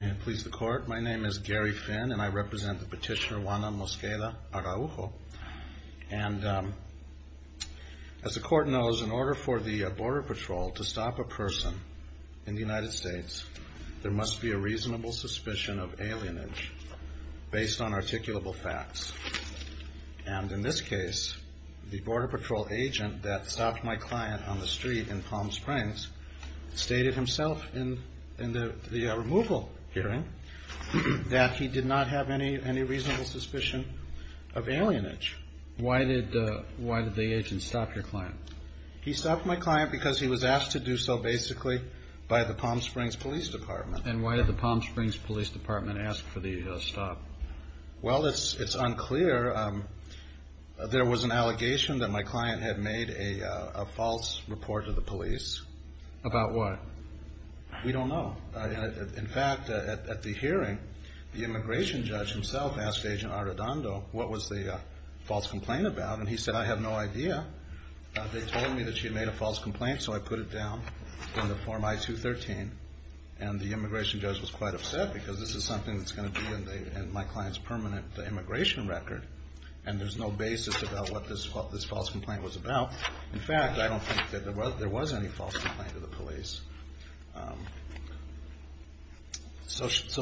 May it please the court, my name is Gary Finn and I represent the petitioner Juana Mosqueda-Araujo and as the court knows, in order for the Border Patrol to stop a person in the United States there must be a reasonable suspicion of alienage based on articulable facts and in this case, the Border Patrol agent that stopped my client on the street in Palm Springs stated himself in the removal hearing that he did not have any reasonable suspicion of alienage. Why did the agent stop your client? He stopped my client because he was asked to do so basically by the Palm Springs Police Department. And why did the Palm Springs Police Department ask for the stop? Well, it's unclear. There was an allegation that my client had made a false report to the police. About what? We don't know. In fact, at the hearing, the immigration judge himself asked Agent Arredondo what was the false complaint about and he said, I have no idea. They told me that she made a false complaint so I put it down in the form I-213 and the immigration judge was quite upset because this is something that's going to be in my client's permanent immigration record and there's no basis about what this false complaint was about. In fact, I don't think that there was any false complaint to the police.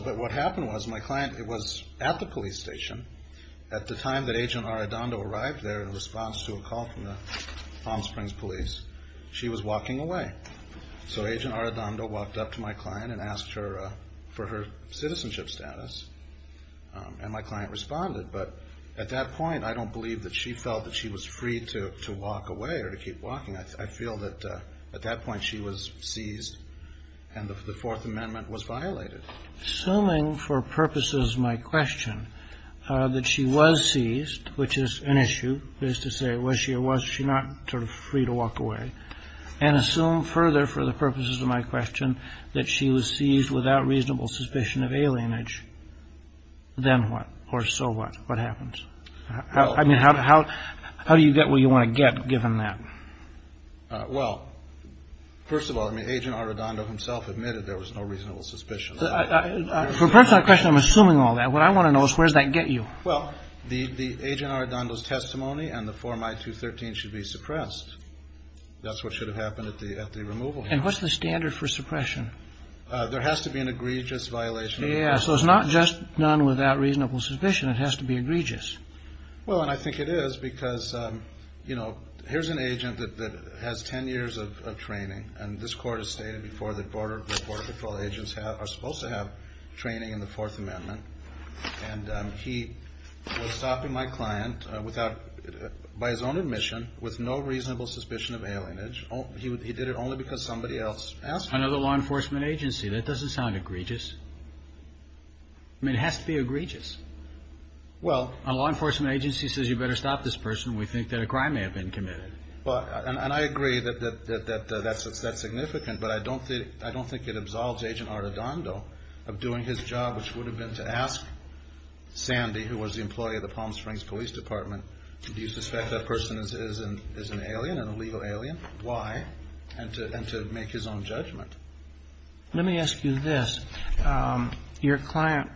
But what happened was, my client was at the police station. At the time that Agent Arredondo arrived there in response to a call from the Palm Springs Police, she was walking away. So Agent Arredondo walked up to my client and asked for her citizenship status and my client responded. But at that point, I don't believe that she felt that she was free to walk away or to keep walking. I feel that at that point she was seized and the Fourth Amendment was violated. Assuming for purposes of my question that she was seized, which is an issue, is to say was she or was she not sort of free to walk away, and assume further for the purposes of my question that she was seized without reasonable suspicion of alienage, then what or so what? What happens? I mean, how do you get where you want to get given that? Well, first of all, I mean, Agent Arredondo himself admitted there was no reasonable suspicion. For the purpose of the question, I'm assuming all that. What I want to know is where does that get you? Well, the Agent Arredondo's testimony and the Form I-213 should be suppressed. That's what should have happened at the removal hearing. And what's the standard for suppression? There has to be an egregious violation. Yeah, so it's not just done without reasonable suspicion. It has to be egregious. Well, and I think it is because, you know, here's an agent that has 10 years of training, and this Court has stated before that Border Patrol agents are supposed to have training in the Fourth Amendment. And he was stopping my client without, by his own admission, with no reasonable suspicion of alienage. He did it only because somebody else asked him. Another law enforcement agency. That doesn't sound egregious. I mean, it has to be egregious. Well. A law enforcement agency says you better stop this person. We think that a crime may have been committed. Well, and I agree that that's significant, but I don't think it absolves Agent Arredondo of doing his job, which would have been to ask Sandy, who was the employee of the Palm Springs Police Department, do you suspect that person is an alien, an illegal alien? Why? And to make his own judgment. Let me ask you this. Your client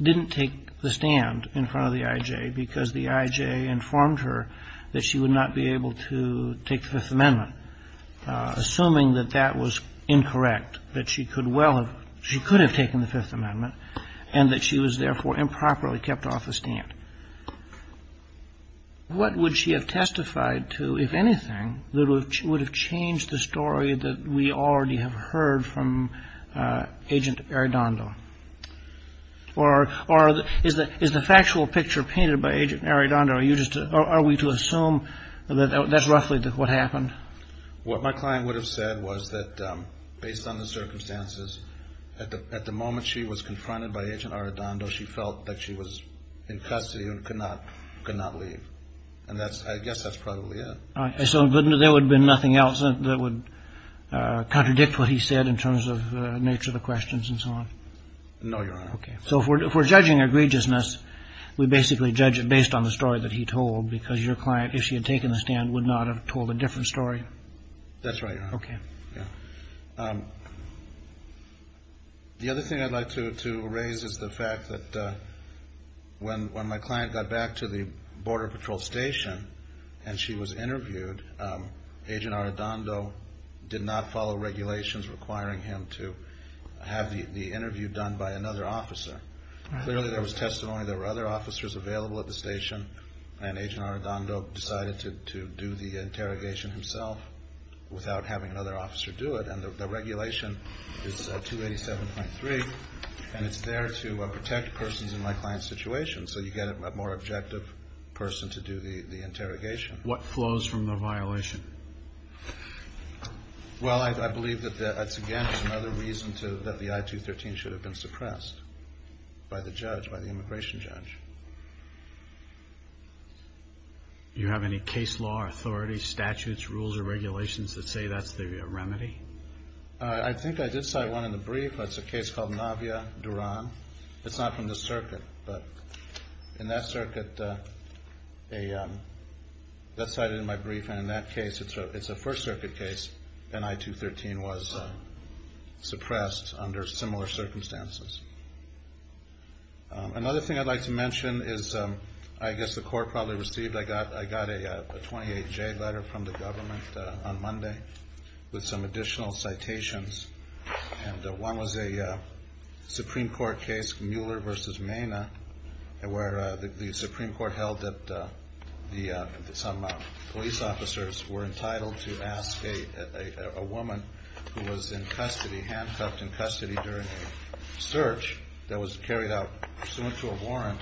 didn't take the stand in front of the I.J. because the I.J. informed her that she would not be able to take the Fifth Amendment, assuming that that was incorrect, that she could well have ‑‑ she could have taken the Fifth Amendment, and that she was therefore improperly kept off the stand. What would she have testified to, if anything, that would have changed the story that we already have heard from Agent Arredondo? Or is the factual picture painted by Agent Arredondo, or are we to assume that that's roughly what happened? What my client would have said was that, based on the circumstances, at the moment she was confronted by Agent Arredondo, she felt that she was in custody and could not leave. And I guess that's probably it. So there would have been nothing else that would contradict what he said in terms of the nature of the questions and so on? No, Your Honor. Okay. So if we're judging egregiousness, we basically judge it based on the story that he told, because your client, if she had taken the stand, would not have told a different story? That's right, Your Honor. Okay. The other thing I'd like to raise is the fact that when my client got back to the Border Patrol Station and she was interviewed, Agent Arredondo did not follow regulations requiring him to have the interview done by another officer. Clearly there was testimony there were other officers available at the station, and Agent Arredondo decided to do the interrogation himself without having another officer do it. And the regulation is 287.3, and it's there to protect persons in my client's situation, so you get a more objective person to do the interrogation. What flows from the violation? Well, I believe that, again, there's another reason that the I-213 should have been suppressed, by the judge, by the immigration judge. Do you have any case law, authority, statutes, rules, or regulations that say that's the remedy? I think I did cite one in the brief. That's a case called Navia, Duran. It's not from the circuit, but in that circuit, that's cited in my brief, and in that case, it's a First Circuit case, and I-213 was suppressed under similar circumstances. Another thing I'd like to mention is I guess the court probably received, I got a 28J letter from the government on Monday with some additional citations, and one was a Supreme Court case, Mueller v. Maina, where the Supreme Court held that some police officers were entitled to ask a woman who was in custody, handcuffed in custody during a search that was carried out pursuant to a warrant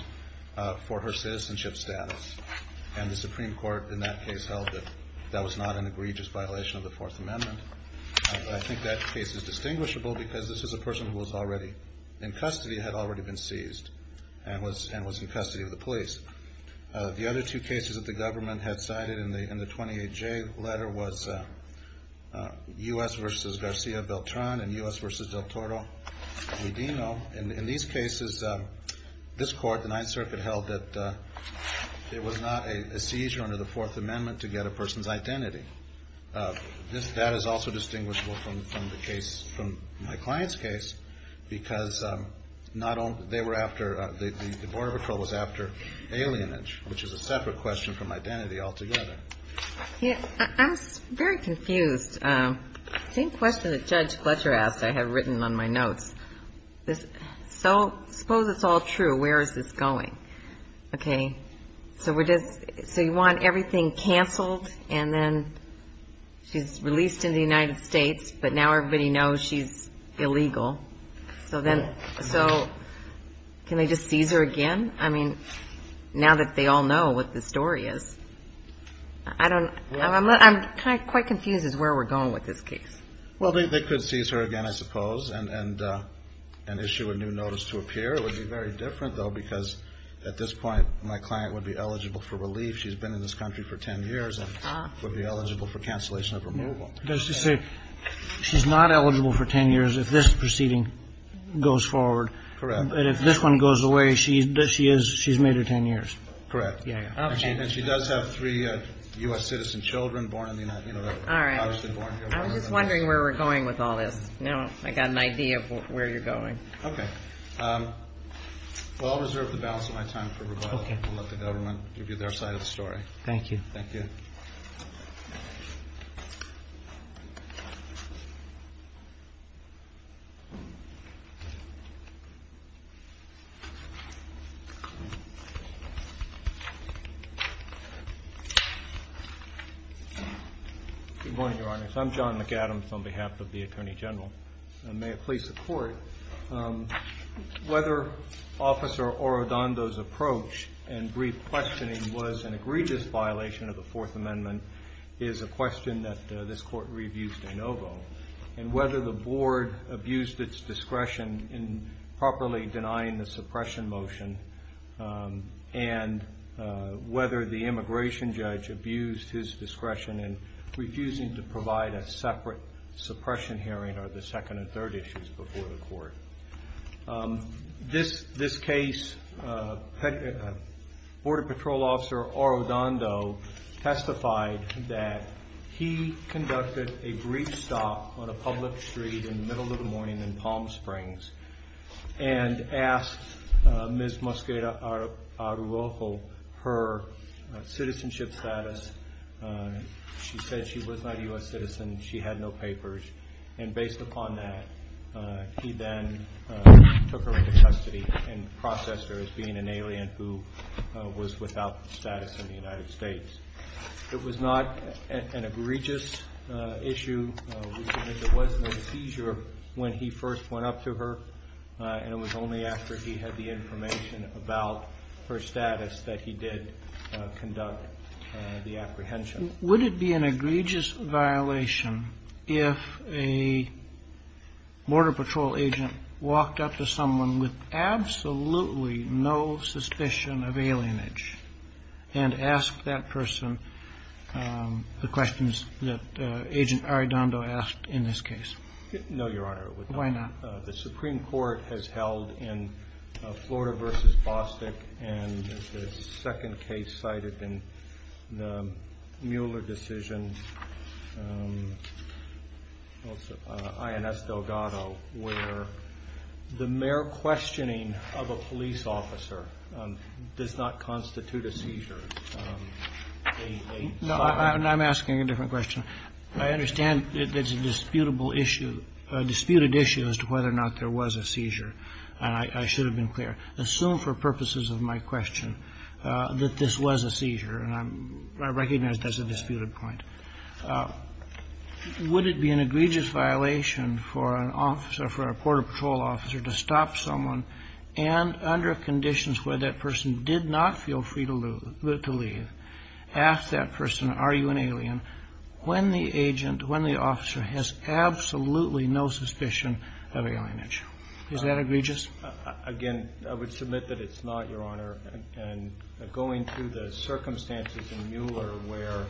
for her citizenship status, and the Supreme Court in that case held that that was not an egregious violation of the Fourth Amendment. I think that case is distinguishable because this is a person who was already in custody, had already been seized, and was in custody of the police. The other two cases that the government had cited in the 28J letter was U.S. v. Garcia Beltran and U.S. v. Del Toro Medino. In these cases, this court, the Ninth Circuit, held that it was not a seizure under the Fourth Amendment to get a person's identity. This, that is also distinguishable from the case, from my client's case, because not only, they were after, the Border Patrol was after alienage, which is a separate question from identity altogether. Yeah. I'm very confused. Same question that Judge Gletcher asked I have written on my notes. So suppose it's all true. Where is this going? Okay. So you want everything canceled and then she's released in the United States, but now everybody knows she's illegal. So can they just seize her again? I mean, now that they all know what the story is. I'm quite confused as to where we're going with this case. Well, they could seize her again, I suppose, and issue a new notice to appear. It would be very different, though, because at this point, my client would be eligible for relief. She's been in this country for 10 years and would be eligible for cancellation of removal. She's not eligible for 10 years if this proceeding goes forward. Correct. And if this one goes away, she's made her 10 years. Correct. And she does have three U.S. citizen children born in the United States. All right. I was just wondering where we're going with all this. Now I've got an idea of where you're going. Okay. Well, I'll reserve the balance of my time for rebuttal. Okay. I'll let the government give you their side of the story. Thank you. Thank you. Good morning, Your Honor. I'm John McAdams on behalf of the Attorney General. And may it please the Court, whether Officer Orodondo's approach and brief questioning was an egregious violation of the Fourth Amendment is a question that this Court reviews de novo. And whether the Board abused its discretion in properly denying the suppression motion and whether the immigration judge abused his discretion in refusing to provide a separate suppression hearing are the second and third issues before the Court. This case, Border Patrol Officer Orodondo testified that he conducted a brief stop on a public street in the middle of the morning in Palm Springs and asked Ms. Mosqueda Aruojo her citizenship status. She said she was not a U.S. citizen. She had no papers. And based upon that, he then took her into custody and processed her as being an alien who was without status in the United States. It was not an egregious issue. There was no seizure when he first went up to her, and it was only after he had the information about her status that he did conduct the apprehension. Would it be an egregious violation if a Border Patrol agent walked up to someone with absolutely no suspicion of alienage and asked that person the questions that Agent Orodondo asked in this case? No, Your Honor. Why not? The Supreme Court has held in Florida v. Bostick and the second case cited in the Mueller decision, INS Delgado, where the mere questioning of a police officer does not constitute a seizure. No, I'm asking a different question. I understand it's a disputable issue, a disputed issue as to whether or not there was a seizure, and I should have been clear. Assume for purposes of my question that this was a seizure, and I recognize that's a disputed point. Would it be an egregious violation for an officer, for a Border Patrol officer to stop someone, and under conditions where that person did not feel free to leave, ask that person, are you an alien, when the agent, when the officer has absolutely no suspicion of alienage? Is that egregious? Again, I would submit that it's not, Your Honor. Going through the circumstances in Mueller where,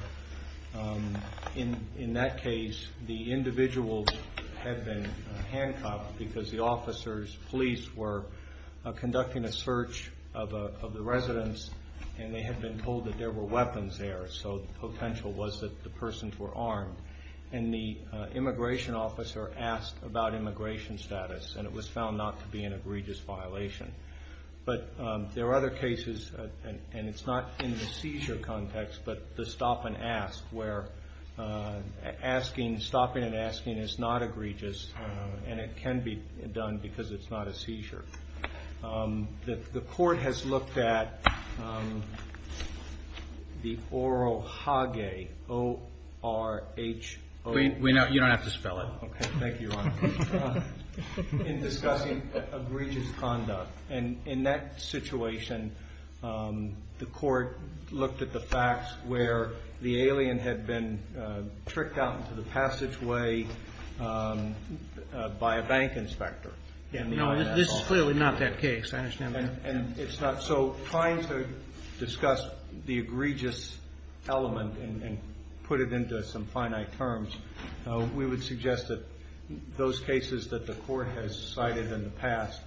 in that case, the individuals had been handcuffed because the officers, police, were conducting a search of the residence, and they had been told that there were weapons there, so the potential was that the persons were armed. And the immigration officer asked about immigration status, and it was found not to be an egregious violation. But there are other cases, and it's not in the seizure context, but the stop-and-ask, where stopping and asking is not egregious, and it can be done because it's not a seizure. The court has looked at the Orohage, O-R-H-O-H-A-G-E. You don't have to spell it. Okay. Thank you, Your Honor. In discussing egregious conduct, and in that situation, the court looked at the facts where the alien had been tricked out into the passageway by a bank inspector. No, this is clearly not that case. I understand that. And it's not. So trying to discuss the egregious element and put it into some finite terms, we would suggest that those cases that the court has cited in the past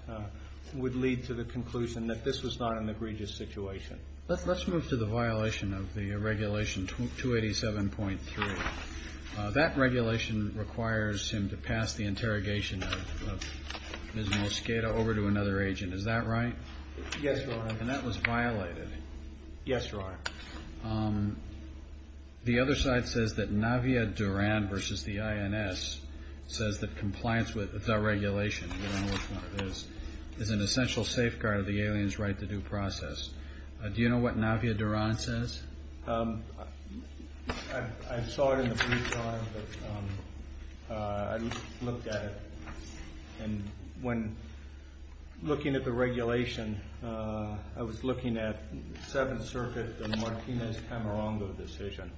would lead to the conclusion that this was not an egregious situation. Let's move to the violation of the regulation 287.3. That regulation requires him to pass the interrogation of Ms. Mosqueda over to another agent. Is that right? Yes, Your Honor. And that was violated. Yes, Your Honor. The other side says that Navia Duran versus the INS says that compliance with the regulation, you don't know which one it is, is an essential safeguard of the alien's right to due process. Do you know what Navia Duran says? I saw it in the brief time, but I looked at it. And when looking at the regulation, I was looking at Seventh Circuit, the Martinez-Camarongo decision,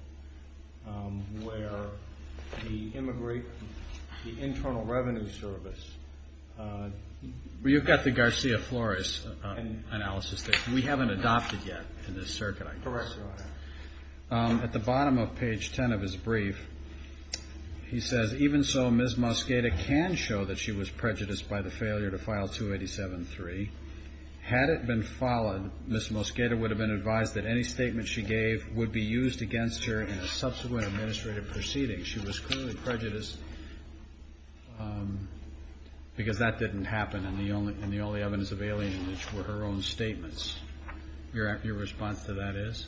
where the Internal Revenue Service. You've got the Garcia-Flores analysis. We haven't adopted yet in this circuit, I guess. Correct, Your Honor. At the bottom of page 10 of his brief, he says, even so, Ms. Mosqueda can show that she was prejudiced by the failure to file 287.3. Had it been followed, Ms. Mosqueda would have been advised that any statement she gave would be used against her in a subsequent administrative proceeding. She was clearly prejudiced because that didn't happen, and the only evidence of alienage were her own statements. Your response to that is?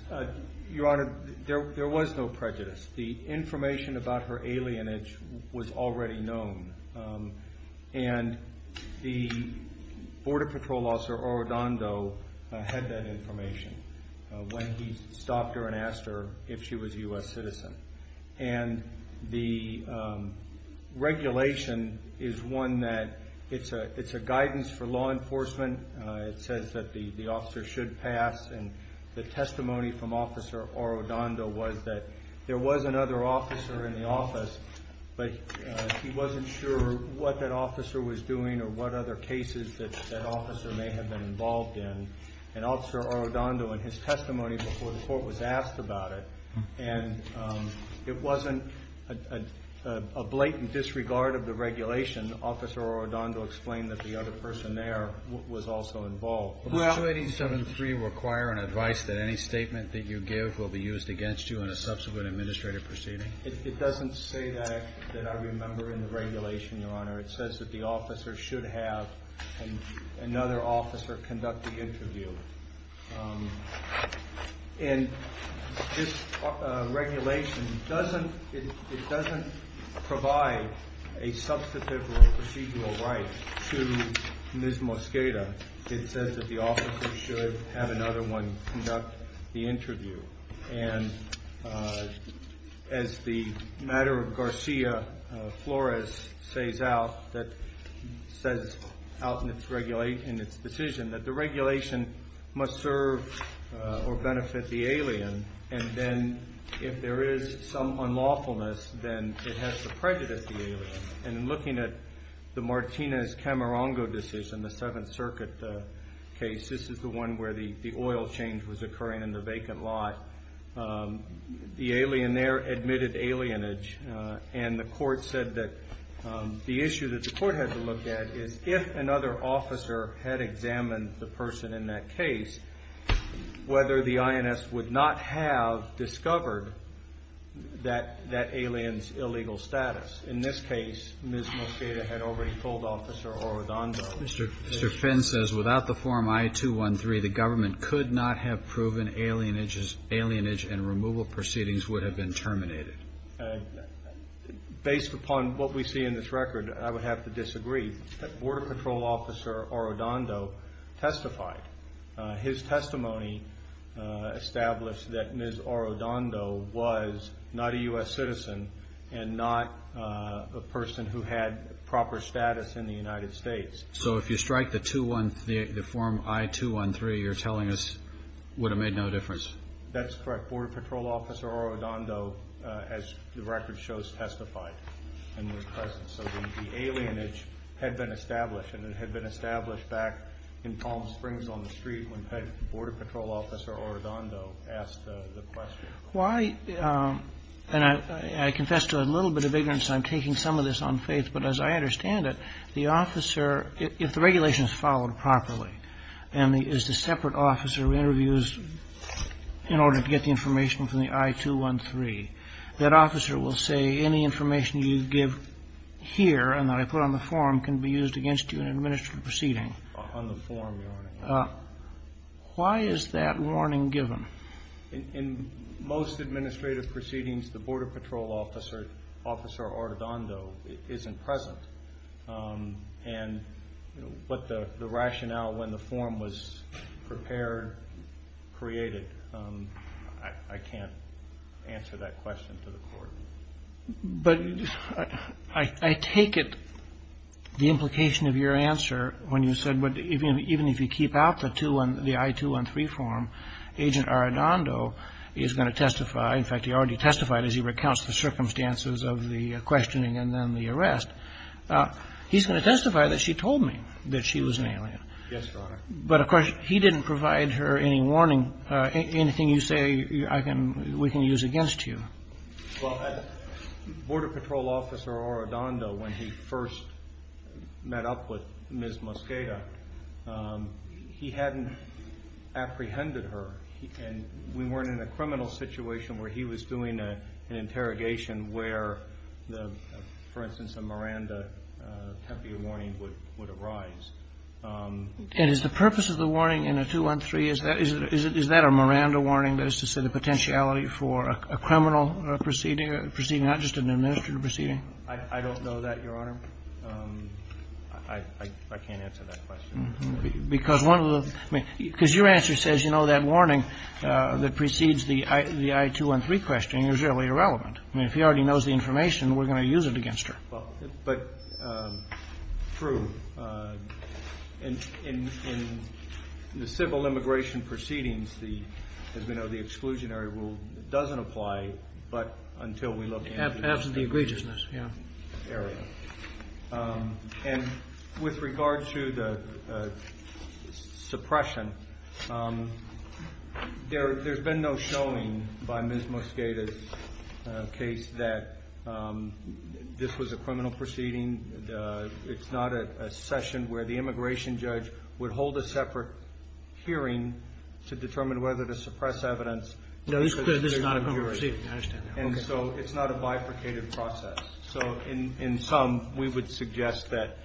Your Honor, there was no prejudice. The information about her alienage was already known, and the Border Patrol officer, Orodondo, had that information when he stopped her and asked her if she was a U.S. citizen. And the regulation is one that it's a guidance for law enforcement. It says that the officer should pass, and the testimony from Officer Orodondo was that there was another officer in the office, but he wasn't sure what that officer was doing or what other cases that officer may have been involved in. And Officer Orodondo, in his testimony before the court was asked about it, and it wasn't a blatant disregard of the regulation. Officer Orodondo explained that the other person there was also involved. Does 287.3 require an advice that any statement that you give will be used against you in a subsequent administrative proceeding? It doesn't say that I remember in the regulation, Your Honor. It says that the officer should have another officer conduct the interview. And this regulation doesn't provide a substantive or procedural right to Ms. Mosqueda. It says that the officer should have another one conduct the interview. And as the matter of Garcia-Flores says out in its decision, that the regulation must serve or benefit the alien, and then if there is some unlawfulness, then it has to prejudice the alien. And in looking at the Martinez-Camarongo decision, the Seventh Circuit case, this is the one where the oil change was occurring in the vacant lot. The alien there admitted alienage, and the court said that the issue that the court had to look at is if another officer had examined the person in that case, whether the INS would not have discovered that alien's illegal status. In this case, Ms. Mosqueda had already pulled Officer Orodondo. Mr. Finn says, without the Form I-213, the government could not have proven alienage and removal proceedings would have been terminated. Based upon what we see in this record, I would have to disagree. Border Patrol Officer Orodondo testified. His testimony established that Ms. Orodondo was not a U.S. citizen and not a person who had proper status in the United States. So if you strike the Form I-213, you're telling us it would have made no difference? That's correct. Border Patrol Officer Orodondo, as the record shows, testified in his presence. So the alienage had been established, and it had been established back in Palm Springs on the street when Border Patrol Officer Orodondo asked the question. Why, and I confess to a little bit of ignorance, and I'm taking some of this on faith, but as I understand it, the officer, if the regulation is followed properly, and the separate officer interviews in order to get the information from the I-213, that officer will say any information you give here and that I put on the form can be used against you in an administrative proceeding. On the form, your Honor. Why is that warning given? In most administrative proceedings, the Border Patrol Officer Orodondo isn't present. And what the rationale when the form was prepared, created, I can't answer that question to the Court. But I take it the implication of your answer when you said even if you keep out the I-213 form, Agent Orodondo is going to testify. In fact, he already testified as he recounts the circumstances of the questioning and then the arrest. He's going to testify that she told me that she was an alien. Yes, Your Honor. But, of course, he didn't provide her any warning, anything you say we can use against you. Well, Border Patrol Officer Orodondo, when he first met up with Ms. Mosqueda, he hadn't apprehended her. And we weren't in a criminal situation where he was doing an interrogation where, for instance, a Miranda temporary warning would arise. And is the purpose of the warning in I-213, is that a Miranda warning, that is to say the potentiality for a criminal proceeding, not just an administrative proceeding? I don't know that, Your Honor. I can't answer that question. Because one of the – because your answer says, you know, that warning that precedes the I-213 questioning is really irrelevant. I mean, if he already knows the information, we're going to use it against her. But, Drew, in the civil immigration proceedings, as we know, the exclusionary rule doesn't apply but until we look at the area. After the egregiousness, yeah. And with regard to the suppression, there's been no showing by Ms. Mosqueda's case that this was a criminal proceeding. It's not a session where the immigration judge would hold a separate hearing to determine whether to suppress evidence. No, this is not a criminal proceeding. I understand that. And so it's not a bifurcated process. So in sum, we would suggest that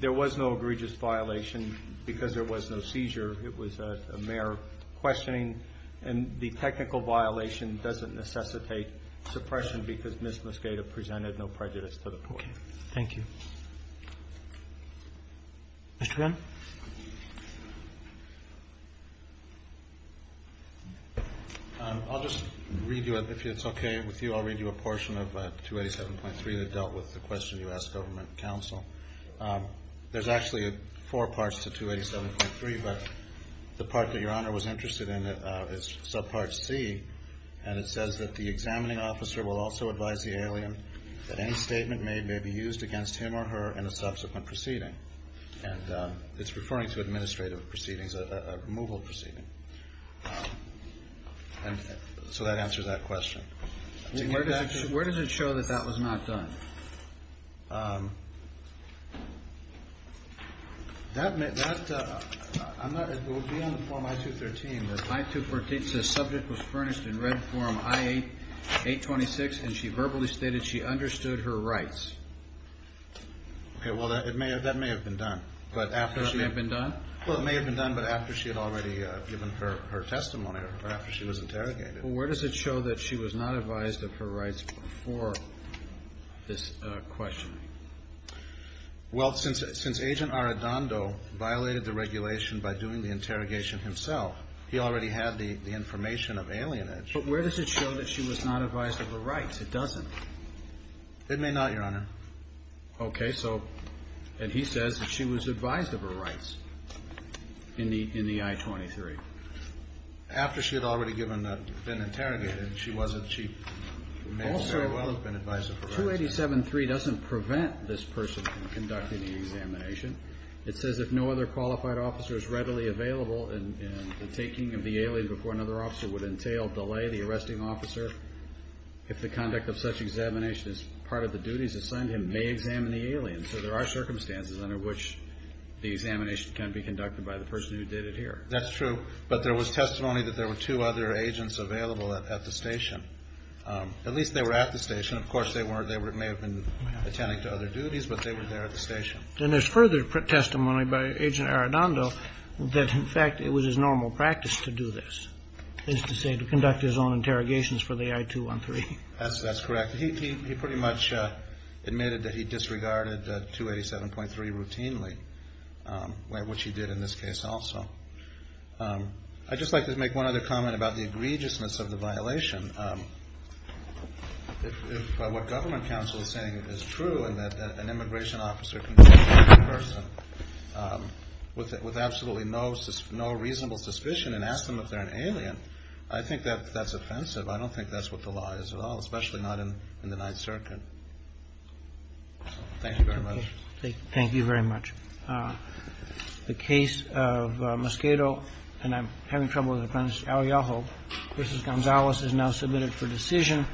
there was no egregious violation because there was no seizure. It was a mere questioning. And the technical violation doesn't necessitate suppression because Ms. Mosqueda presented no prejudice to the court. Okay. Thank you. Mr. Gunn? I'll just read you a – if it's okay with you, I'll read you a portion of 287.3 that dealt with the question you asked government counsel. There's actually four parts to 287.3, but the part that Your Honor was interested in is subpart C, and it says that the examining officer will also advise the alien that any statement made may be used against him or her in a subsequent proceeding. And it's referring to administrative proceedings, a removal proceeding. So that answers that question. Where does it show that that was not done? That may – that – I'm not – it will be on the form I-213. I-213 says subject was furnished in red form I-826, and she verbally stated she understood her rights. Okay. Well, that may have been done. That may have been done? Well, it may have been done, but after she had already given her testimony or after she was interrogated. Well, where does it show that she was not advised of her rights before this question? Well, since Agent Arradondo violated the regulation by doing the interrogation himself, he already had the information of alienage. But where does it show that she was not advised of her rights? It doesn't. It may not, Your Honor. Okay. So – and he says that she was advised of her rights in the I-23. After she had already given – been interrogated, she wasn't. She may very well have been advised of her rights. Also, 287.3 doesn't prevent this person from conducting the examination. It says if no other qualified officer is readily available, and the taking of the alien before another officer would entail delay, the arresting officer, if the conduct of such examination is part of the duties assigned him, may examine the alien. So there are circumstances under which the examination can be conducted by the person who did it here. That's true. But there was testimony that there were two other agents available at the station. At least they were at the station. Of course, they weren't – they may have been attending to other duties, but they were there at the station. Then there's further testimony by Agent Arradondo that, in fact, it was his normal practice to do this, is to say, to conduct his own interrogations for the I-213. That's correct. He pretty much admitted that he disregarded 287.3 routinely, which he did in this case also. I'd just like to make one other comment about the egregiousness of the violation. If what government counsel is saying is true, and that an immigration officer can take a person with absolutely no reasonable suspicion and ask them if they're an alien, I think that that's offensive. I don't think that's what the law is at all, especially not in the Ninth Circuit. Thank you very much. Thank you very much. The case of Mosquero, and I'm having trouble with the pronunciation, Arreajo v. Gonzales is now submitted for decision.